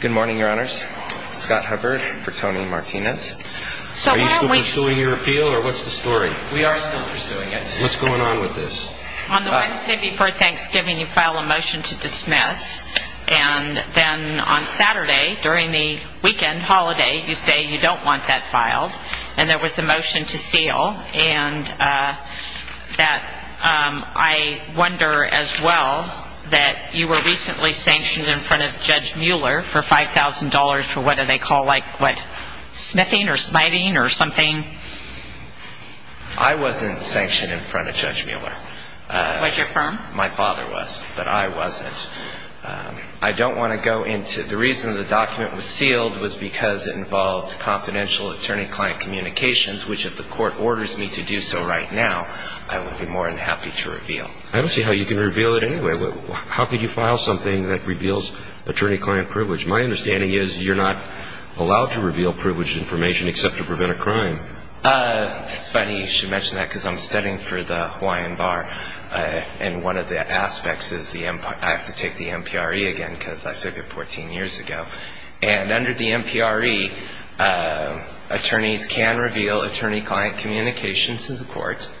Good morning, your honors. Scott Hubbard for Tony Martinez. Are you still pursuing your appeal, or what's the story? We are still pursuing it. What's going on with this? On the Wednesday before Thanksgiving, you file a motion to dismiss. And then on Saturday, during the weekend holiday, you say you don't want that filed. And there was a motion to seal. And I wonder as well that you were recently sanctioned in front of Judge Mueller for $5,000 for what they call smithing or smiting or something. I wasn't sanctioned in front of Judge Mueller. Was your firm? My father was, but I wasn't. I don't want to go into the reason the document was sealed was because it involved confidential attorney-client communications, which if the court orders me to do so right now, I would be more than happy to reveal. I don't see how you can reveal it anyway. How could you file something that reveals attorney-client privilege? My understanding is you're not allowed to reveal privileged information except to prevent a crime. It's funny you should mention that because I'm studying for the Hawaiian Bar. And one of the aspects is I have to take the MPRE again because I took it 14 years ago. And under the MPRE, attorneys can reveal attorney-client communications to the court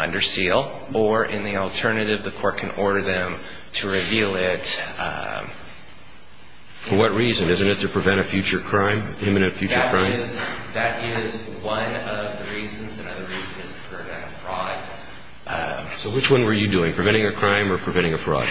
under seal, or in the alternative, the court can order them to reveal it. For what reason? Isn't it to prevent a future crime, imminent future crime? That is one of the reasons. Another reason is to prevent a fraud. So which one were you doing? Preventing a crime or preventing a fraud?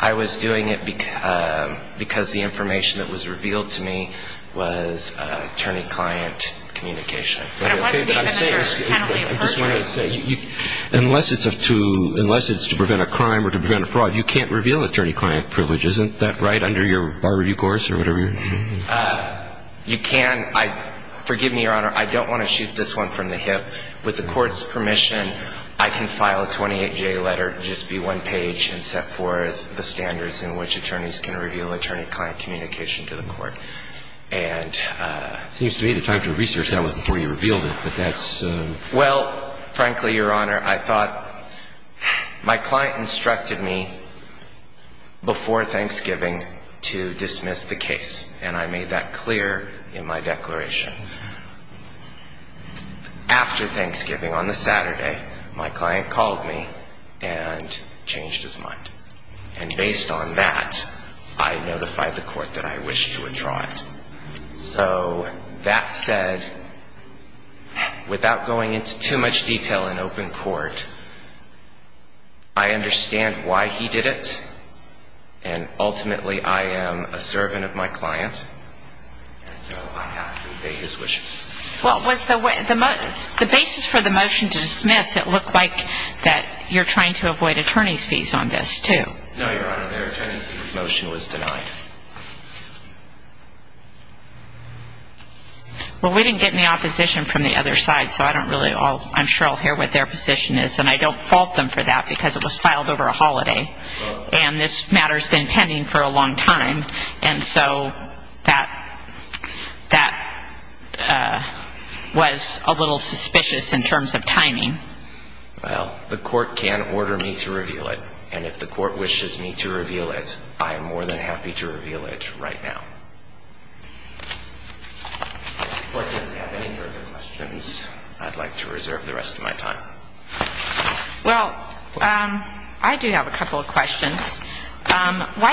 I was doing it because the information that was revealed to me was attorney-client communication. But it wasn't even under penalty of perjury. Unless it's to prevent a crime or to prevent a fraud, you can't reveal attorney-client privilege. Isn't that right under your Bar Review course or whatever? You can. Forgive me, Your Honor. I don't want to shoot this one from the hip. With the court's permission, I can file a 28-J letter, just be one page, and set forth the standards in which attorneys can reveal attorney-client communication to the court. And... Seems to me the time to research that was before you revealed it, but that's... Well, frankly, Your Honor, I thought my client instructed me before Thanksgiving to dismiss the case. And I made that clear in my declaration. After Thanksgiving, on the Saturday, my client called me and changed his mind. And based on that, I notified the court that I wished to withdraw it. So, that said, without going into too much detail in open court, I understand why he did it, and ultimately I am a servant of my client. So, I have to obey his wishes. Well, was the way... The basis for the motion to dismiss, it looked like that you're trying to avoid attorney's fees on this, too. No, Your Honor. Their attorney's motion was denied. Well, we didn't get any opposition from the other side, so I don't really... I'm sure I'll hear what their position is. And I don't fault them for that because it was filed over a holiday. And this matter's been pending for a long time. And so, that was a little suspicious in terms of timing. Well, the court can order me to reveal it. And if the court wishes me to reveal it, I am more than happy to reveal it right now. If the court doesn't have any further questions, I'd like to reserve the rest of my time. Why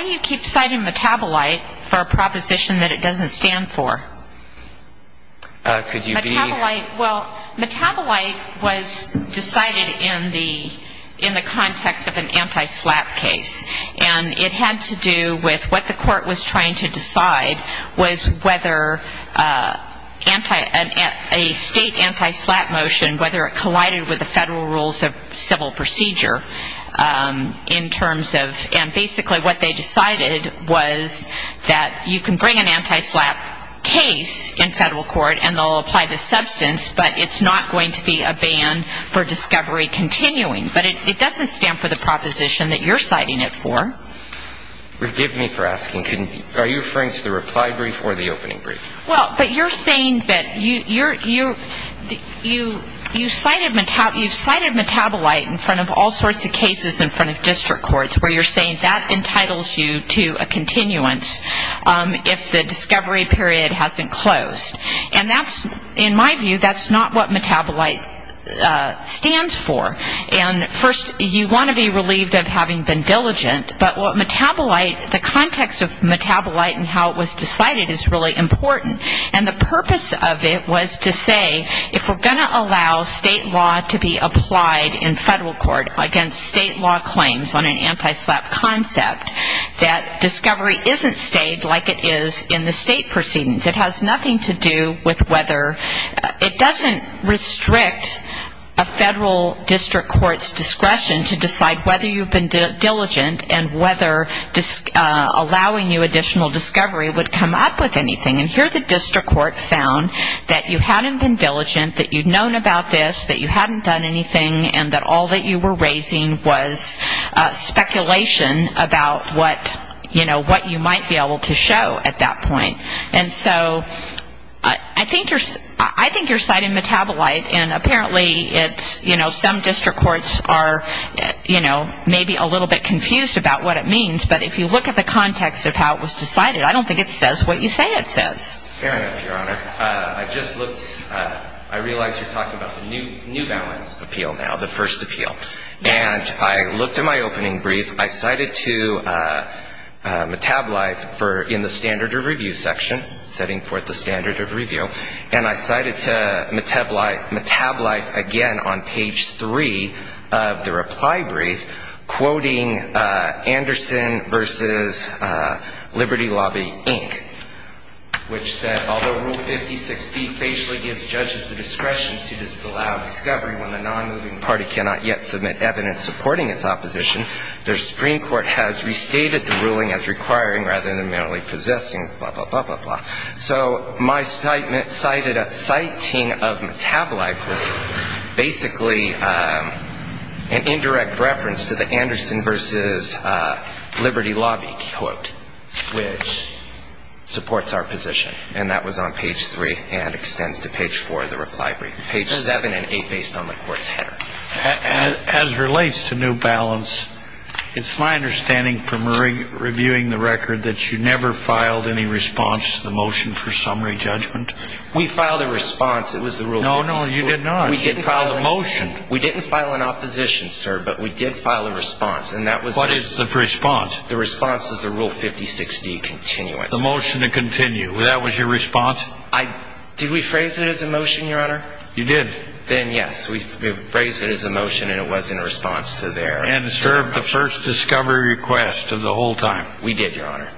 do you keep citing metabolite for a proposition that it doesn't stand for? Could you be... Metabolite, well, metabolite was decided in the context of an anti-SLAPP case. And it had to do with what the court was trying to decide was whether a state anti-SLAPP motion, whether it collided with the federal rules of civil procedure in terms of... And basically, what they decided was that you can bring an anti-SLAPP case in federal court and they'll apply the substance, but it's not going to be a ban for discovery continuing. But it doesn't stand for the proposition that you're citing it for. Forgive me for asking. Are you referring to the reply brief or the opening brief? Well, but you're saying that you cited metabolite in front of all sorts of cases in front of district courts, where you're saying that entitles you to a continuance if the discovery period hasn't closed. And that's, in my view, that's not what metabolite stands for. And first, you want to be relieved of having been diligent, but what metabolite, the context of metabolite and how it was decided is really important. And the purpose of it was to say, if we're going to allow state law to be applied in federal court against state law claims on an anti-SLAPP concept, that discovery isn't stayed like it is in the state proceedings. It has nothing to do with whether, it doesn't restrict a federal district court's discretion to decide whether you've been diligent and whether allowing you additional discovery would come up with anything. And here the district court found that you hadn't been diligent, that you'd known about this, that you hadn't done anything, and that all that you were raising was speculation about what, you know, what you might be able to show at that point. And so I think you're citing metabolite, and apparently it's, you know, some district courts are, you know, maybe a little bit confused about what it means. But if you look at the context of how it was decided, I don't think it says what you say it says. Fair enough, Your Honor. I just looked, I realize you're talking about the New Balance appeal now, the first appeal. Yes. And I looked at my opening brief. I cited to metabolite in the standard review section, setting forth the standard of review, and I cited to metabolite again on page three of the reply brief, quoting Anderson v. Liberty Lobby, Inc., which said, although Rule 5016 facially gives judges the discretion to disallow discovery when the nonmoving party cannot yet submit evidence supporting its opposition, the Supreme Court has restated the ruling as requiring rather than merely possessing, blah, blah, blah, blah, blah. So my citing of metabolite was basically an indirect reference to the Anderson v. Liberty Lobby quote, which supports our position, and that was on page three and extends to page four of the reply brief, page seven and eight based on the court's header. As it relates to New Balance, it's my understanding from reviewing the record that you never filed any response to the motion for summary judgment? We filed a response. It was the Rule 5016. No, no, you did not. You filed a motion. We didn't file an opposition, sir, but we did file a response. And that was the ---- What is the response? The response is the Rule 5016 continuance. The motion to continue. That was your response? Did we phrase it as a motion, Your Honor? You did. Then, yes. We phrased it as a motion, and it was in response to their ---- And served the first discovery request of the whole time. We did, Your Honor.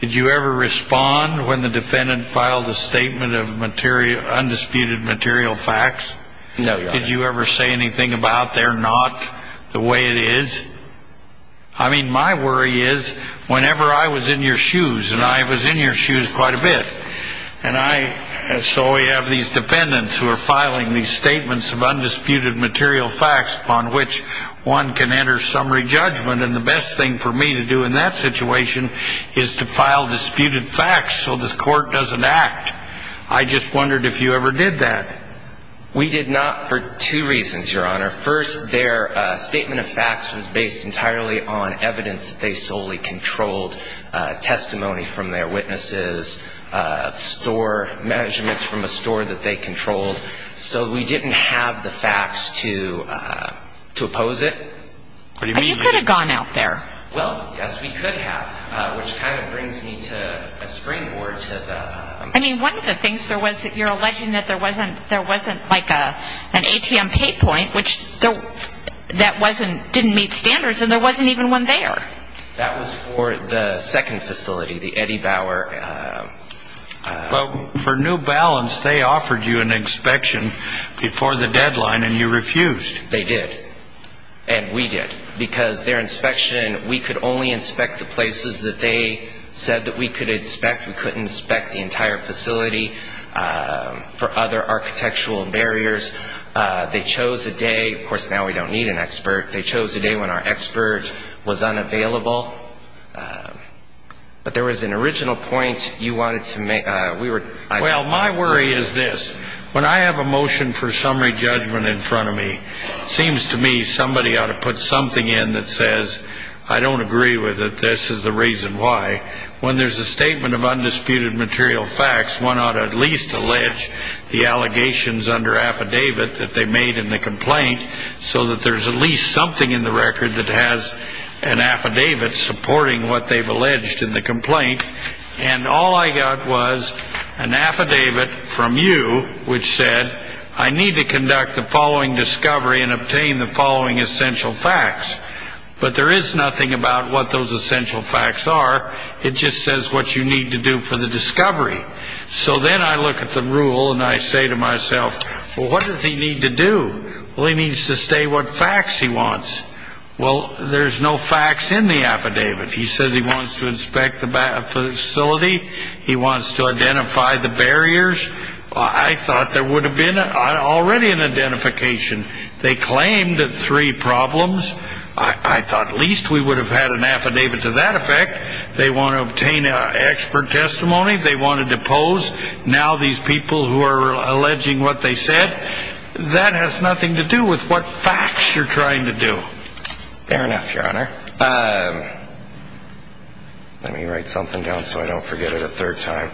Did you ever respond when the defendant filed a statement of undisputed material facts? No, Your Honor. Did you ever say anything about they're not the way it is? I mean, my worry is whenever I was in your shoes, and I was in your shoes quite a bit, and so we have these defendants who are filing these statements of undisputed material facts upon which one can enter summary judgment, and the best thing for me to do in that situation is to file disputed facts so the court doesn't act. I just wondered if you ever did that. We did not for two reasons, Your Honor. First, their statement of facts was based entirely on evidence that they solely controlled, testimony from their witnesses, store measurements from a store that they controlled. So we didn't have the facts to oppose it. You could have gone out there. Well, yes, we could have, which kind of brings me to a springboard to the ---- I mean, one of the things there was that you're alleging that there wasn't like an ATM pay point, which that didn't meet standards, and there wasn't even one there. That was for the second facility, the Eddie Bauer ---- Well, for New Balance, they offered you an inspection before the deadline, and you refused. They did, and we did. Because their inspection, we could only inspect the places that they said that we could inspect. We couldn't inspect the entire facility for other architectural barriers. They chose a day. Of course, now we don't need an expert. They chose a day when our expert was unavailable. But there was an original point you wanted to make. Well, my worry is this. When I have a motion for summary judgment in front of me, it seems to me somebody ought to put something in that says, I don't agree with it, this is the reason why. When there's a statement of undisputed material facts, one ought to at least allege the allegations under affidavit that they made in the complaint so that there's at least something in the record that has an affidavit supporting what they've alleged in the complaint. And all I got was an affidavit from you which said, I need to conduct the following discovery and obtain the following essential facts. But there is nothing about what those essential facts are. It just says what you need to do for the discovery. So then I look at the rule and I say to myself, well, what does he need to do? Well, he needs to say what facts he wants. Well, there's no facts in the affidavit. He says he wants to inspect the facility. He wants to identify the barriers. I thought there would have been already an identification. They claimed three problems. I thought at least we would have had an affidavit to that effect. They want to obtain expert testimony. They want to depose. Now these people who are alleging what they said, that has nothing to do with what facts you're trying to do. Fair enough, Your Honor. Let me write something down so I don't forget it a third time.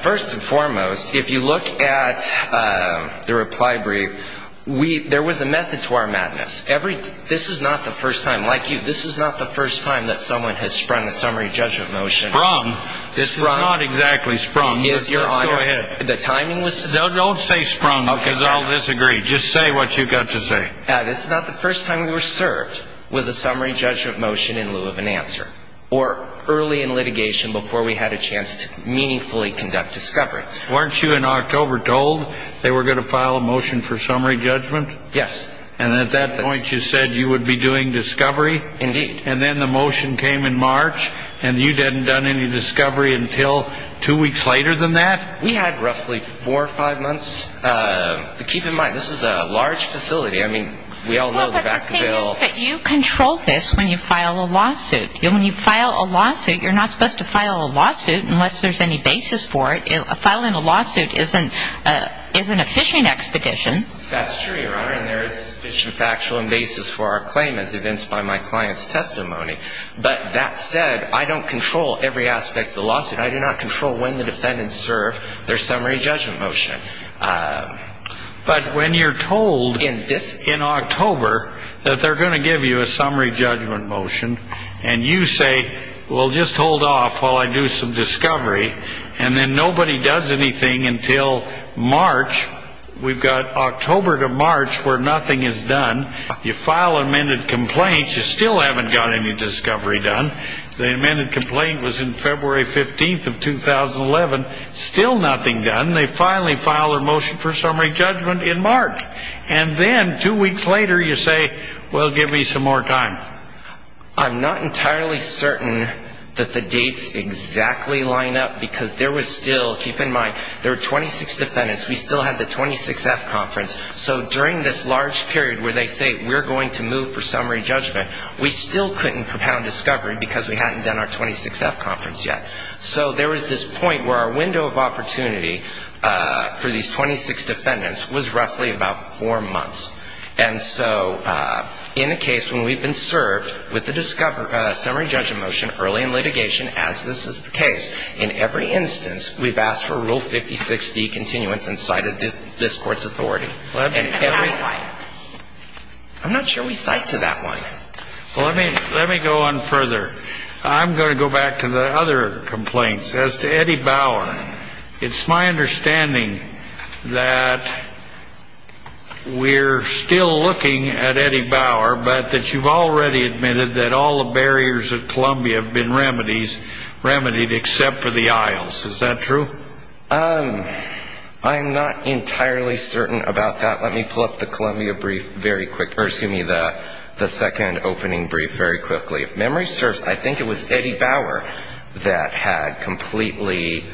First and foremost, if you look at the reply brief, there was a method to our madness. This is not the first time. Like you, this is not the first time that someone has sprung a summary judgment motion. Sprung? Sprung. This is not exactly sprung. Yes, Your Honor. Let's go ahead. The timing was sprung. Don't say sprung because I'll disagree. Just say what you've got to say. This is not the first time we were served with a summary judgment motion in lieu of an answer or early in litigation before we had a chance to meaningfully conduct discovery. Weren't you in October told they were going to file a motion for summary judgment? Yes. And at that point you said you would be doing discovery? Indeed. And then the motion came in March, and you hadn't done any discovery until two weeks later than that? We had roughly four or five months. Keep in mind, this is a large facility. I mean, we all know the back of the bill. But the thing is that you control this when you file a lawsuit. When you file a lawsuit, you're not supposed to file a lawsuit unless there's any basis for it. Filing a lawsuit isn't a fishing expedition. That's true, Your Honor, and there is sufficient factual and basis for our claim as evinced by my client's testimony. But that said, I don't control every aspect of the lawsuit. I do not control when the defendants serve their summary judgment motion. But when you're told in October that they're going to give you a summary judgment motion and you say, well, just hold off while I do some discovery, and then nobody does anything until March, we've got October to March where nothing is done, you file an amended complaint, you still haven't got any discovery done. The amended complaint was in February 15th of 2011. Still nothing done. They finally file their motion for summary judgment in March. And then two weeks later you say, well, give me some more time. I'm not entirely certain that the dates exactly line up because there was still, keep in mind, there were 26 defendants. We still had the 26F conference. So during this large period where they say we're going to move for summary judgment, we still couldn't propound discovery because we hadn't done our 26F conference yet. So there was this point where our window of opportunity for these 26 defendants was roughly about four months. And so in a case when we've been served with a discovery, a summary judgment motion early in litigation, as this is the case, in every instance we've asked for Rule 56D continuance and cited this Court's authority. I'm not sure we cite to that one. Let me go on further. I'm going to go back to the other complaints. As to Eddie Bauer, it's my understanding that we're still looking at Eddie Bauer, but that you've already admitted that all the barriers at Columbia have been remedied except for the aisles. Is that true? I'm not entirely certain about that. Let me pull up the Columbia brief very quick, or excuse me, the second opening brief very quickly. If memory serves, I think it was Eddie Bauer that had completely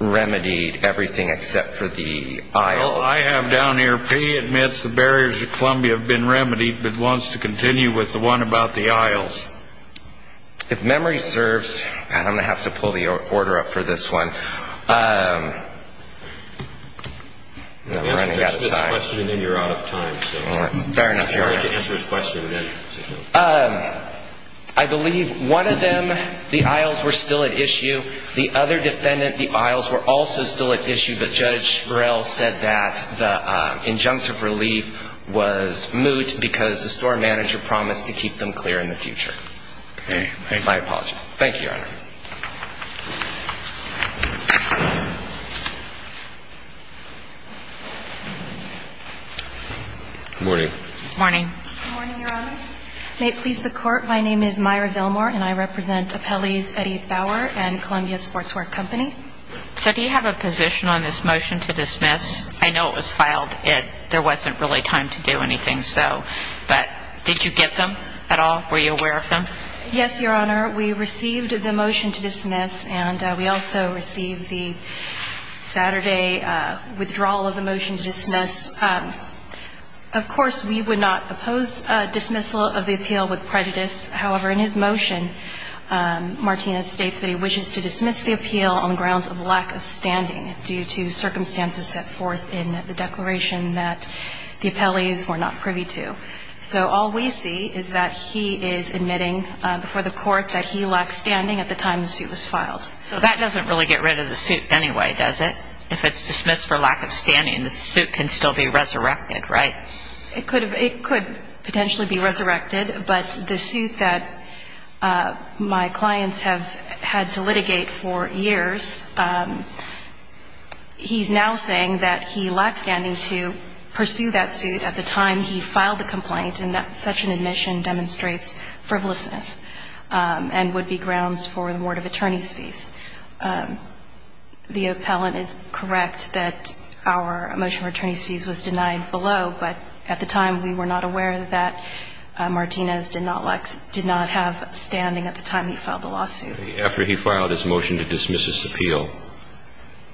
remedied everything except for the aisles. Well, I have down here P admits the barriers at Columbia have been remedied, but wants to continue with the one about the aisles. If memory serves, and I'm going to have to pull the order up for this one, I'm running out of time. Answer this question and then you're out of time. All right. Fair enough, Your Honor. I'd like to answer his question then. I believe one of them, the aisles were still at issue. The other defendant, the aisles were also still at issue, but Judge Burrell said that the injunctive relief was moot because the store manager promised to keep them clear in the future. Okay. My apologies. Thank you, Your Honor. Good morning. Good morning. Good morning, Your Honor. May it please the Court, my name is Myra Villmore, and I represent appellees Eddie Bauer and Columbia Sportswear Company. So do you have a position on this motion to dismiss? I know it was filed and there wasn't really time to do anything, so, but did you get them at all? Were you aware of them? We received the motion to dismiss, and we also received the motion to dismiss. We received the Saturday withdrawal of the motion to dismiss. Of course, we would not oppose dismissal of the appeal with prejudice. However, in his motion, Martinez states that he wishes to dismiss the appeal on the grounds of lack of standing due to circumstances set forth in the declaration that the appellees were not privy to. So all we see is that he is admitting before the Court that he lacked standing at the time the suit was filed. So that doesn't really get rid of the suit anyway, does it? If it's dismissed for lack of standing, the suit can still be resurrected, right? It could potentially be resurrected, but the suit that my clients have had to litigate for years, he's now saying that he lacked standing to pursue that suit at the time he filed the complaint and that such an admission demonstrates frivolousness and would be grounds for the board of attorney's fees. The appellant is correct that our motion for attorney's fees was denied below, but at the time we were not aware that Martinez did not have standing at the time he filed the lawsuit. After he filed his motion to dismiss this appeal,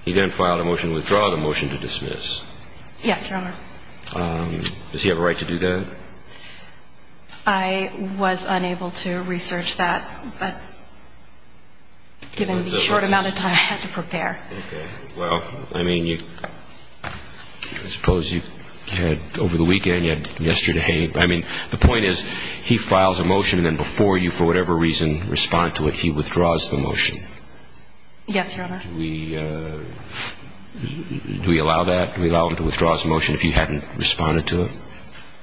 he then filed a motion to withdraw the motion to dismiss. Yes, Your Honor. Does he have a right to do that? I was unable to research that, but given the short amount of time I had to prepare. Okay. Well, I mean, I suppose you had over the weekend, you had yesterday. I mean, the point is he files a motion and then before you for whatever reason respond to it, he withdraws the motion. Yes, Your Honor. Do we allow that? Do we allow him to withdraw his motion if he hadn't responded to it?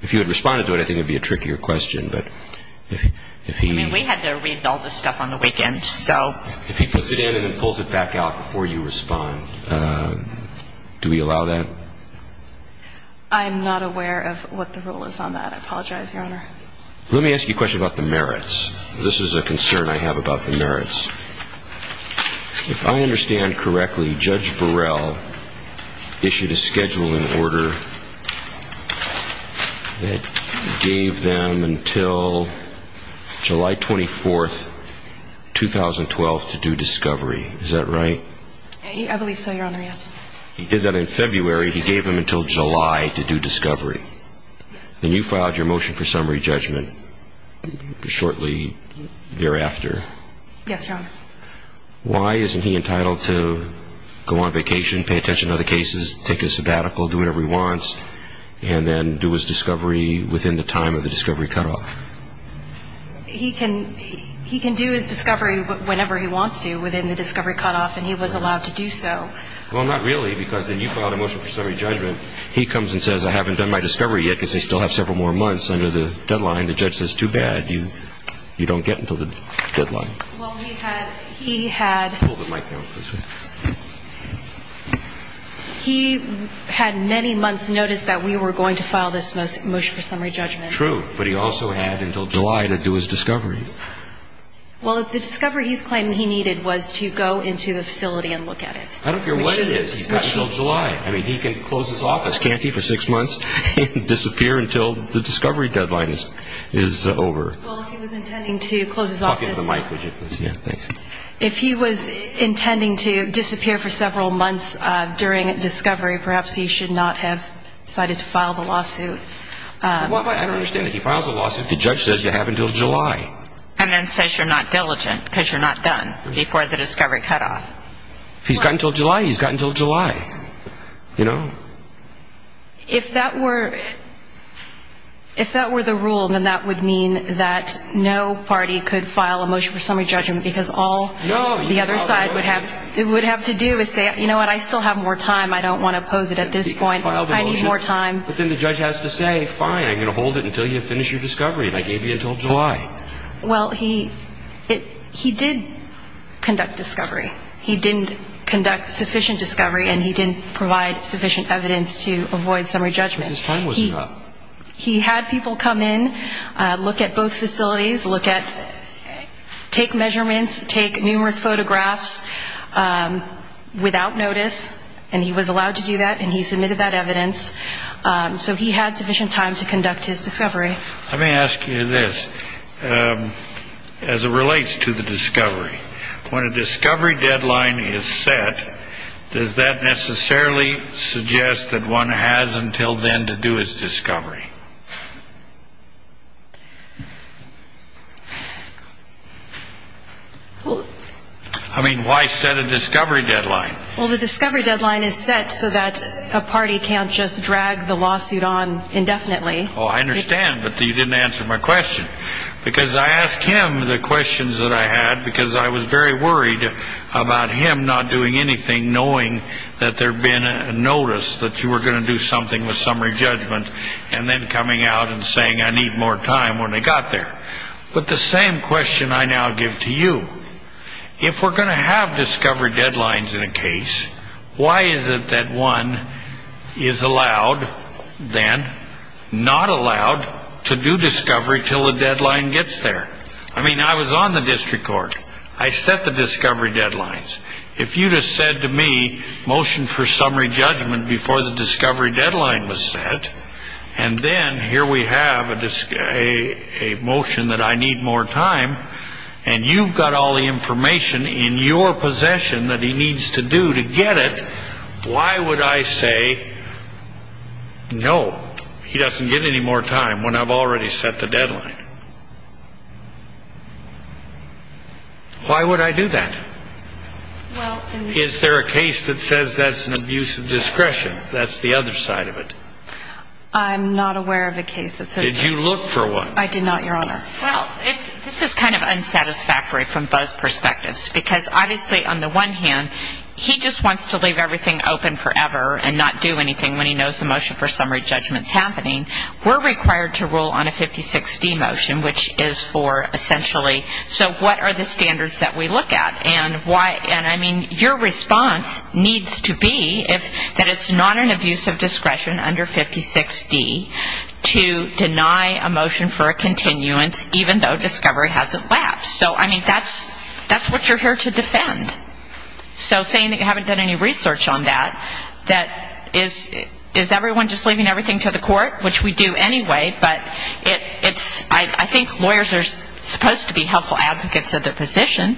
If you had responded to it, I think it would be a trickier question, but if he... I mean, we had to read all this stuff on the weekend, so... If he puts it in and then pulls it back out before you respond, do we allow that? I'm not aware of what the rule is on that. I apologize, Your Honor. Let me ask you a question about the merits. This is a concern I have about the merits. If I understand correctly, Judge Burrell issued a scheduling order that gave them until July 24, 2012 to do discovery. Is that right? I believe so, Your Honor, yes. He did that in February. He gave them until July to do discovery. Yes. And you filed your motion for summary judgment shortly thereafter. Yes, Your Honor. Why isn't he entitled to go on vacation, pay attention to other cases, take a sabbatical, do whatever he wants, and then do his discovery within the time of the discovery cutoff? He can do his discovery whenever he wants to within the discovery cutoff, and he was allowed to do so. Well, not really, because then you filed a motion for summary judgment. He comes and says, I haven't done my discovery yet because I still have several more months under the deadline. And the judge says, too bad, you don't get until the deadline. Well, he had many months notice that we were going to file this motion for summary judgment. True, but he also had until July to do his discovery. Well, the discovery he's claiming he needed was to go into the facility and look at it. I don't care what it is. He's got until July. I mean, he can close his office, can't he, for six months and disappear until the discovery deadline? Well, if he was intending to close his office, if he was intending to disappear for several months during discovery, perhaps he should not have decided to file the lawsuit. I don't understand it. If he files a lawsuit, the judge says you have until July. And then says you're not diligent because you're not done before the discovery cutoff. If he's got until July, he's got until July. You know? If that were the rule, then that would mean that no party could file a motion for summary judgment because all the other side would have to do is say, you know what, I still have more time. I don't want to oppose it at this point. I need more time. But then the judge has to say, fine, I'm going to hold it until you finish your discovery. And I gave you until July. Well, he did conduct discovery. He didn't conduct sufficient discovery, and he didn't provide sufficient evidence to avoid summary judgment. But his time was up. He had people come in, look at both facilities, look at, take measurements, take numerous photographs without notice. And he was allowed to do that, and he submitted that evidence. So he had sufficient time to conduct his discovery. Let me ask you this. As it relates to the discovery, when a discovery deadline is set, does that necessarily suggest that one has until then to do his discovery? I mean, why set a discovery deadline? Well, the discovery deadline is set so that a party can't just drag the lawsuit on indefinitely. Oh, I understand, but you didn't answer my question. Because I asked him the questions that I had because I was very worried about him not doing anything, knowing that there had been a notice that you were going to do something with summary judgment, and then coming out and saying, I need more time when they got there. But the same question I now give to you. If we're going to have discovery deadlines in a case, why is it that one is allowed then, not allowed, to do discovery until the deadline gets there? I mean, I was on the district court. I set the discovery deadlines. If you'd have said to me, motion for summary judgment before the discovery deadline was set, and then here we have a motion that I need more time, and you've got all the information in your possession that he needs to do to get it, why would I say, no, he doesn't get any more time when I've already set the deadline? Why would I do that? Is there a case that says that's an abuse of discretion, that's the other side of it? I'm not aware of a case that says that. Did you look for one? I did not, Your Honor. Well, this is kind of unsatisfactory from both perspectives, because obviously on the one hand, he just wants to leave everything open forever and not do anything when he knows the motion for summary judgment is happening. We're required to rule on a 56D motion, which is for essentially, so what are the standards that we look at? And, I mean, your response needs to be that it's not an abuse of discretion under 56D to deny a motion for a continuance even though discovery hasn't lapsed. So, I mean, that's what you're here to defend. So saying that you haven't done any research on that, that is everyone just leaving everything to the court, which we do anyway, but I think lawyers are supposed to be helpful advocates of their position.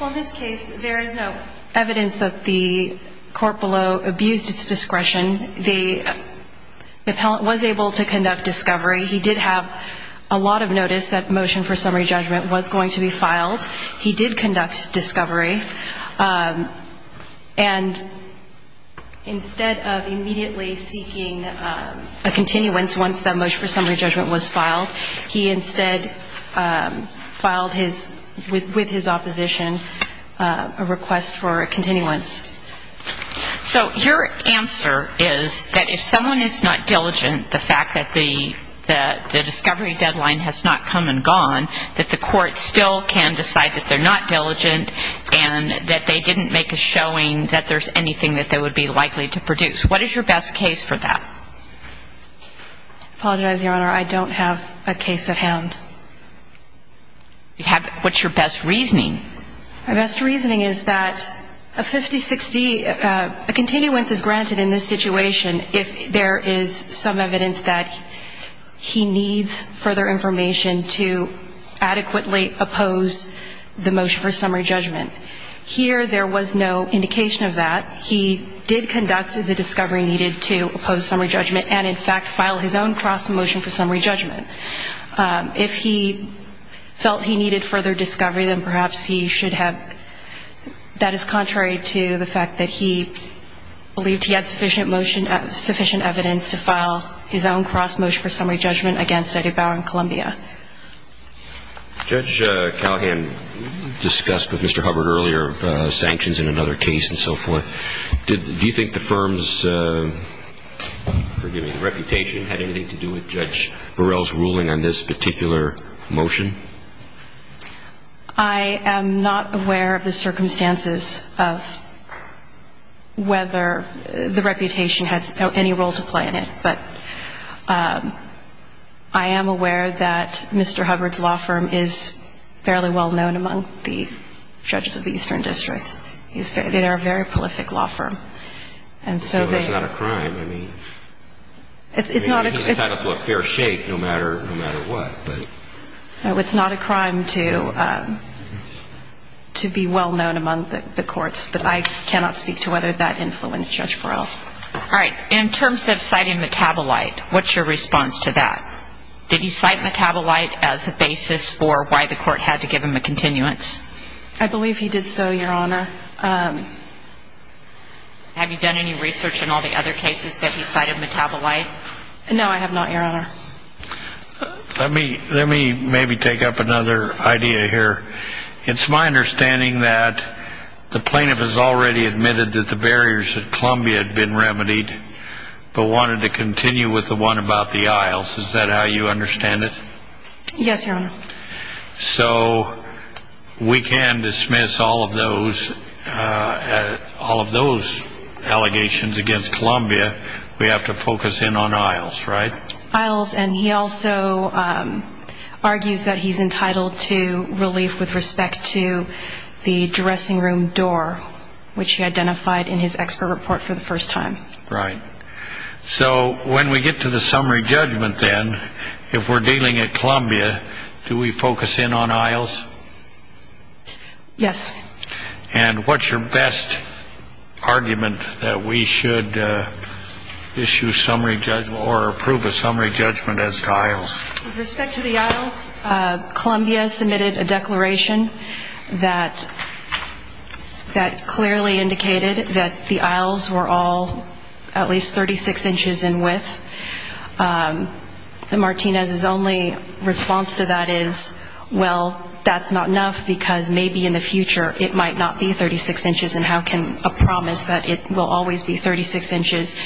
Well, in this case, there is no evidence that the court below abused its discretion. The appellant was able to conduct discovery. He did have a lot of notice that motion for summary judgment was going to be filed. He did conduct discovery. And instead of immediately seeking a continuance once the motion for summary judgment was filed, he instead filed with his opposition a request for a continuance. So your answer is that if someone is not diligent, the fact that the discovery deadline has not come and gone, that the court still can decide that they're not diligent and that they didn't make a showing that there's anything that they would be likely to produce. What is your best case for that? I apologize, Your Honor. I don't have a case at hand. What's your best reasoning? My best reasoning is that a 5060, a continuance is granted in this situation if there is some evidence that he needs further information to adequately oppose the motion for summary judgment. Here, there was no indication of that. He did conduct the discovery needed to oppose summary judgment and, in fact, file his own cross-motion for summary judgment. If he felt he needed further discovery, then perhaps he should have. That is contrary to the fact that he believed he had sufficient evidence to file his own cross-motion for summary judgment against Eddie Bauer and Columbia. Judge Calhoun discussed with Mr. Hubbard earlier sanctions in another case and so forth. Do you think the firm's reputation had anything to do with Judge Burrell's ruling on this particular motion? I am not aware of the circumstances of whether the reputation has any role to play in it, but I am aware that Mr. Hubbard's law firm is fairly well known among the judges of the Eastern District. They are a very prolific law firm. That's not a crime. I mean, he's tied up to a fair shake no matter what. It's not a crime to be well known among the courts, but I cannot speak to whether that influenced Judge Burrell. All right. In terms of citing metabolite, what's your response to that? Did he cite metabolite as a basis for why the court had to give him a continuance? I believe he did so, Your Honor. Have you done any research in all the other cases that he cited metabolite? No, I have not, Your Honor. Let me maybe take up another idea here. It's my understanding that the plaintiff has already admitted that the barriers at Columbia had been remedied but wanted to continue with the one about the aisles. Is that how you understand it? Yes, Your Honor. So we can dismiss all of those allegations against Columbia. We have to focus in on aisles, right? Aisles, and he also argues that he's entitled to relief with respect to the dressing room door, which he identified in his expert report for the first time. Right. So when we get to the summary judgment then, if we're dealing at Columbia, do we focus in on aisles? Yes. And what's your best argument that we should issue a summary judgment or approve a summary judgment as to aisles? With respect to the aisles, Columbia submitted a declaration that clearly indicated that the aisles were all at least 36 inches in width. And Martinez's only response to that is, well, that's not enough because maybe in the future it might not be 36 inches and how can a promise that it will always be 36 inches?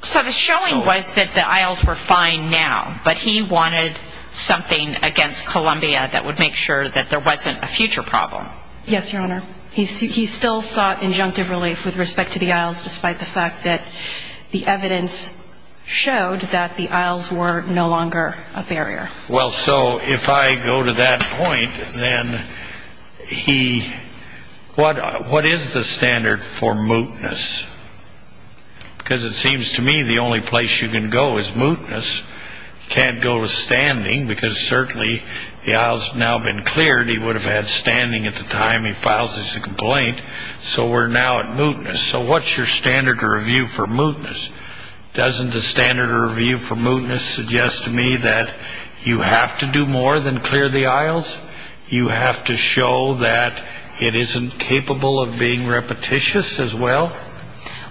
So the showing was that the aisles were fine now, but he wanted something against Columbia that would make sure that there wasn't a future problem. Yes, Your Honor. He still sought injunctive relief with respect to the aisles, despite the fact that the evidence showed that the aisles were no longer a barrier. Well, so if I go to that point, then what is the standard for mootness? Because it seems to me the only place you can go is mootness. You can't go to standing because certainly the aisles have now been cleared. He would have had standing at the time he files his complaint, so we're now at mootness. So what's your standard of review for mootness? Doesn't the standard of review for mootness suggest to me that you have to do more than clear the aisles? You have to show that it isn't capable of being repetitious as well?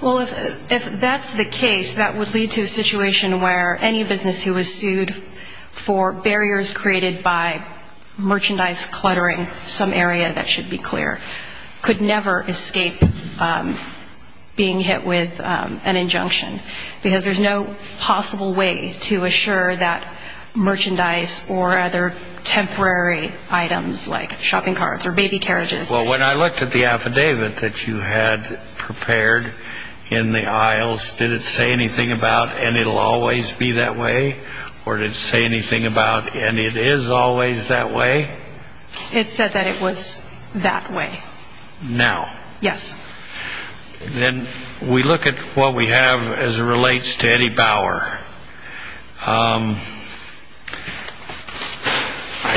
Well, if that's the case, that would lead to a situation where any business who was sued for barriers created by merchandise cluttering, some area that should be clear, could never escape being hit with an injunction because there's no possible way to assure that merchandise or other temporary items like shopping carts or baby carriages. Well, when I looked at the affidavit that you had prepared in the aisles, did it say anything about, and it'll always be that way, or did it say anything about, and it is always that way? It said that it was that way. Now. Yes. Then we look at what we have as it relates to Eddie Bauer. I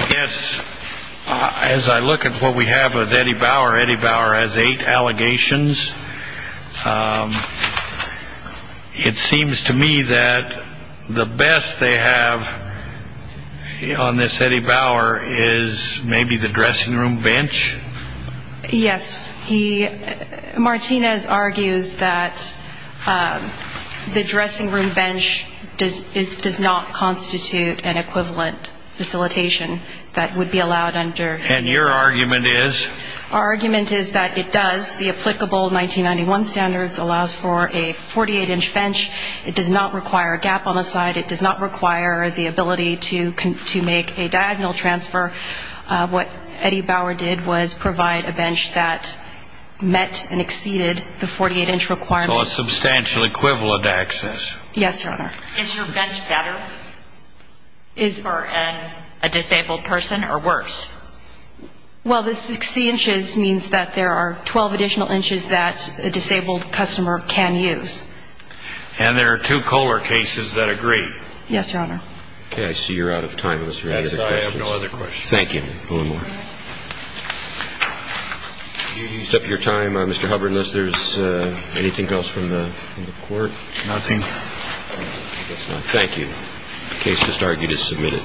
guess as I look at what we have of Eddie Bauer, Eddie Bauer has eight allegations. It seems to me that the best they have on this Eddie Bauer is maybe the dressing room bench. Yes. Martinez argues that the dressing room bench does not constitute an equivalent facilitation that would be allowed under. And your argument is? Our argument is that it does. The applicable 1991 standards allows for a 48-inch bench. It does not require a gap on the side. It does not require the ability to make a diagonal transfer. What Eddie Bauer did was provide a bench that met and exceeded the 48-inch requirement. So a substantial equivalent access. Yes, Your Honor. Is your bench better for a disabled person or worse? Well, the 60 inches means that there are 12 additional inches that a disabled customer can use. And there are two Kohler cases that agree. Yes, Your Honor. Okay. I see you're out of time unless you have any other questions. Yes. I have no other questions. Thank you. Mr. Hubbard, unless there's anything else from the court. Nothing. Thank you. The case just argued is submitted.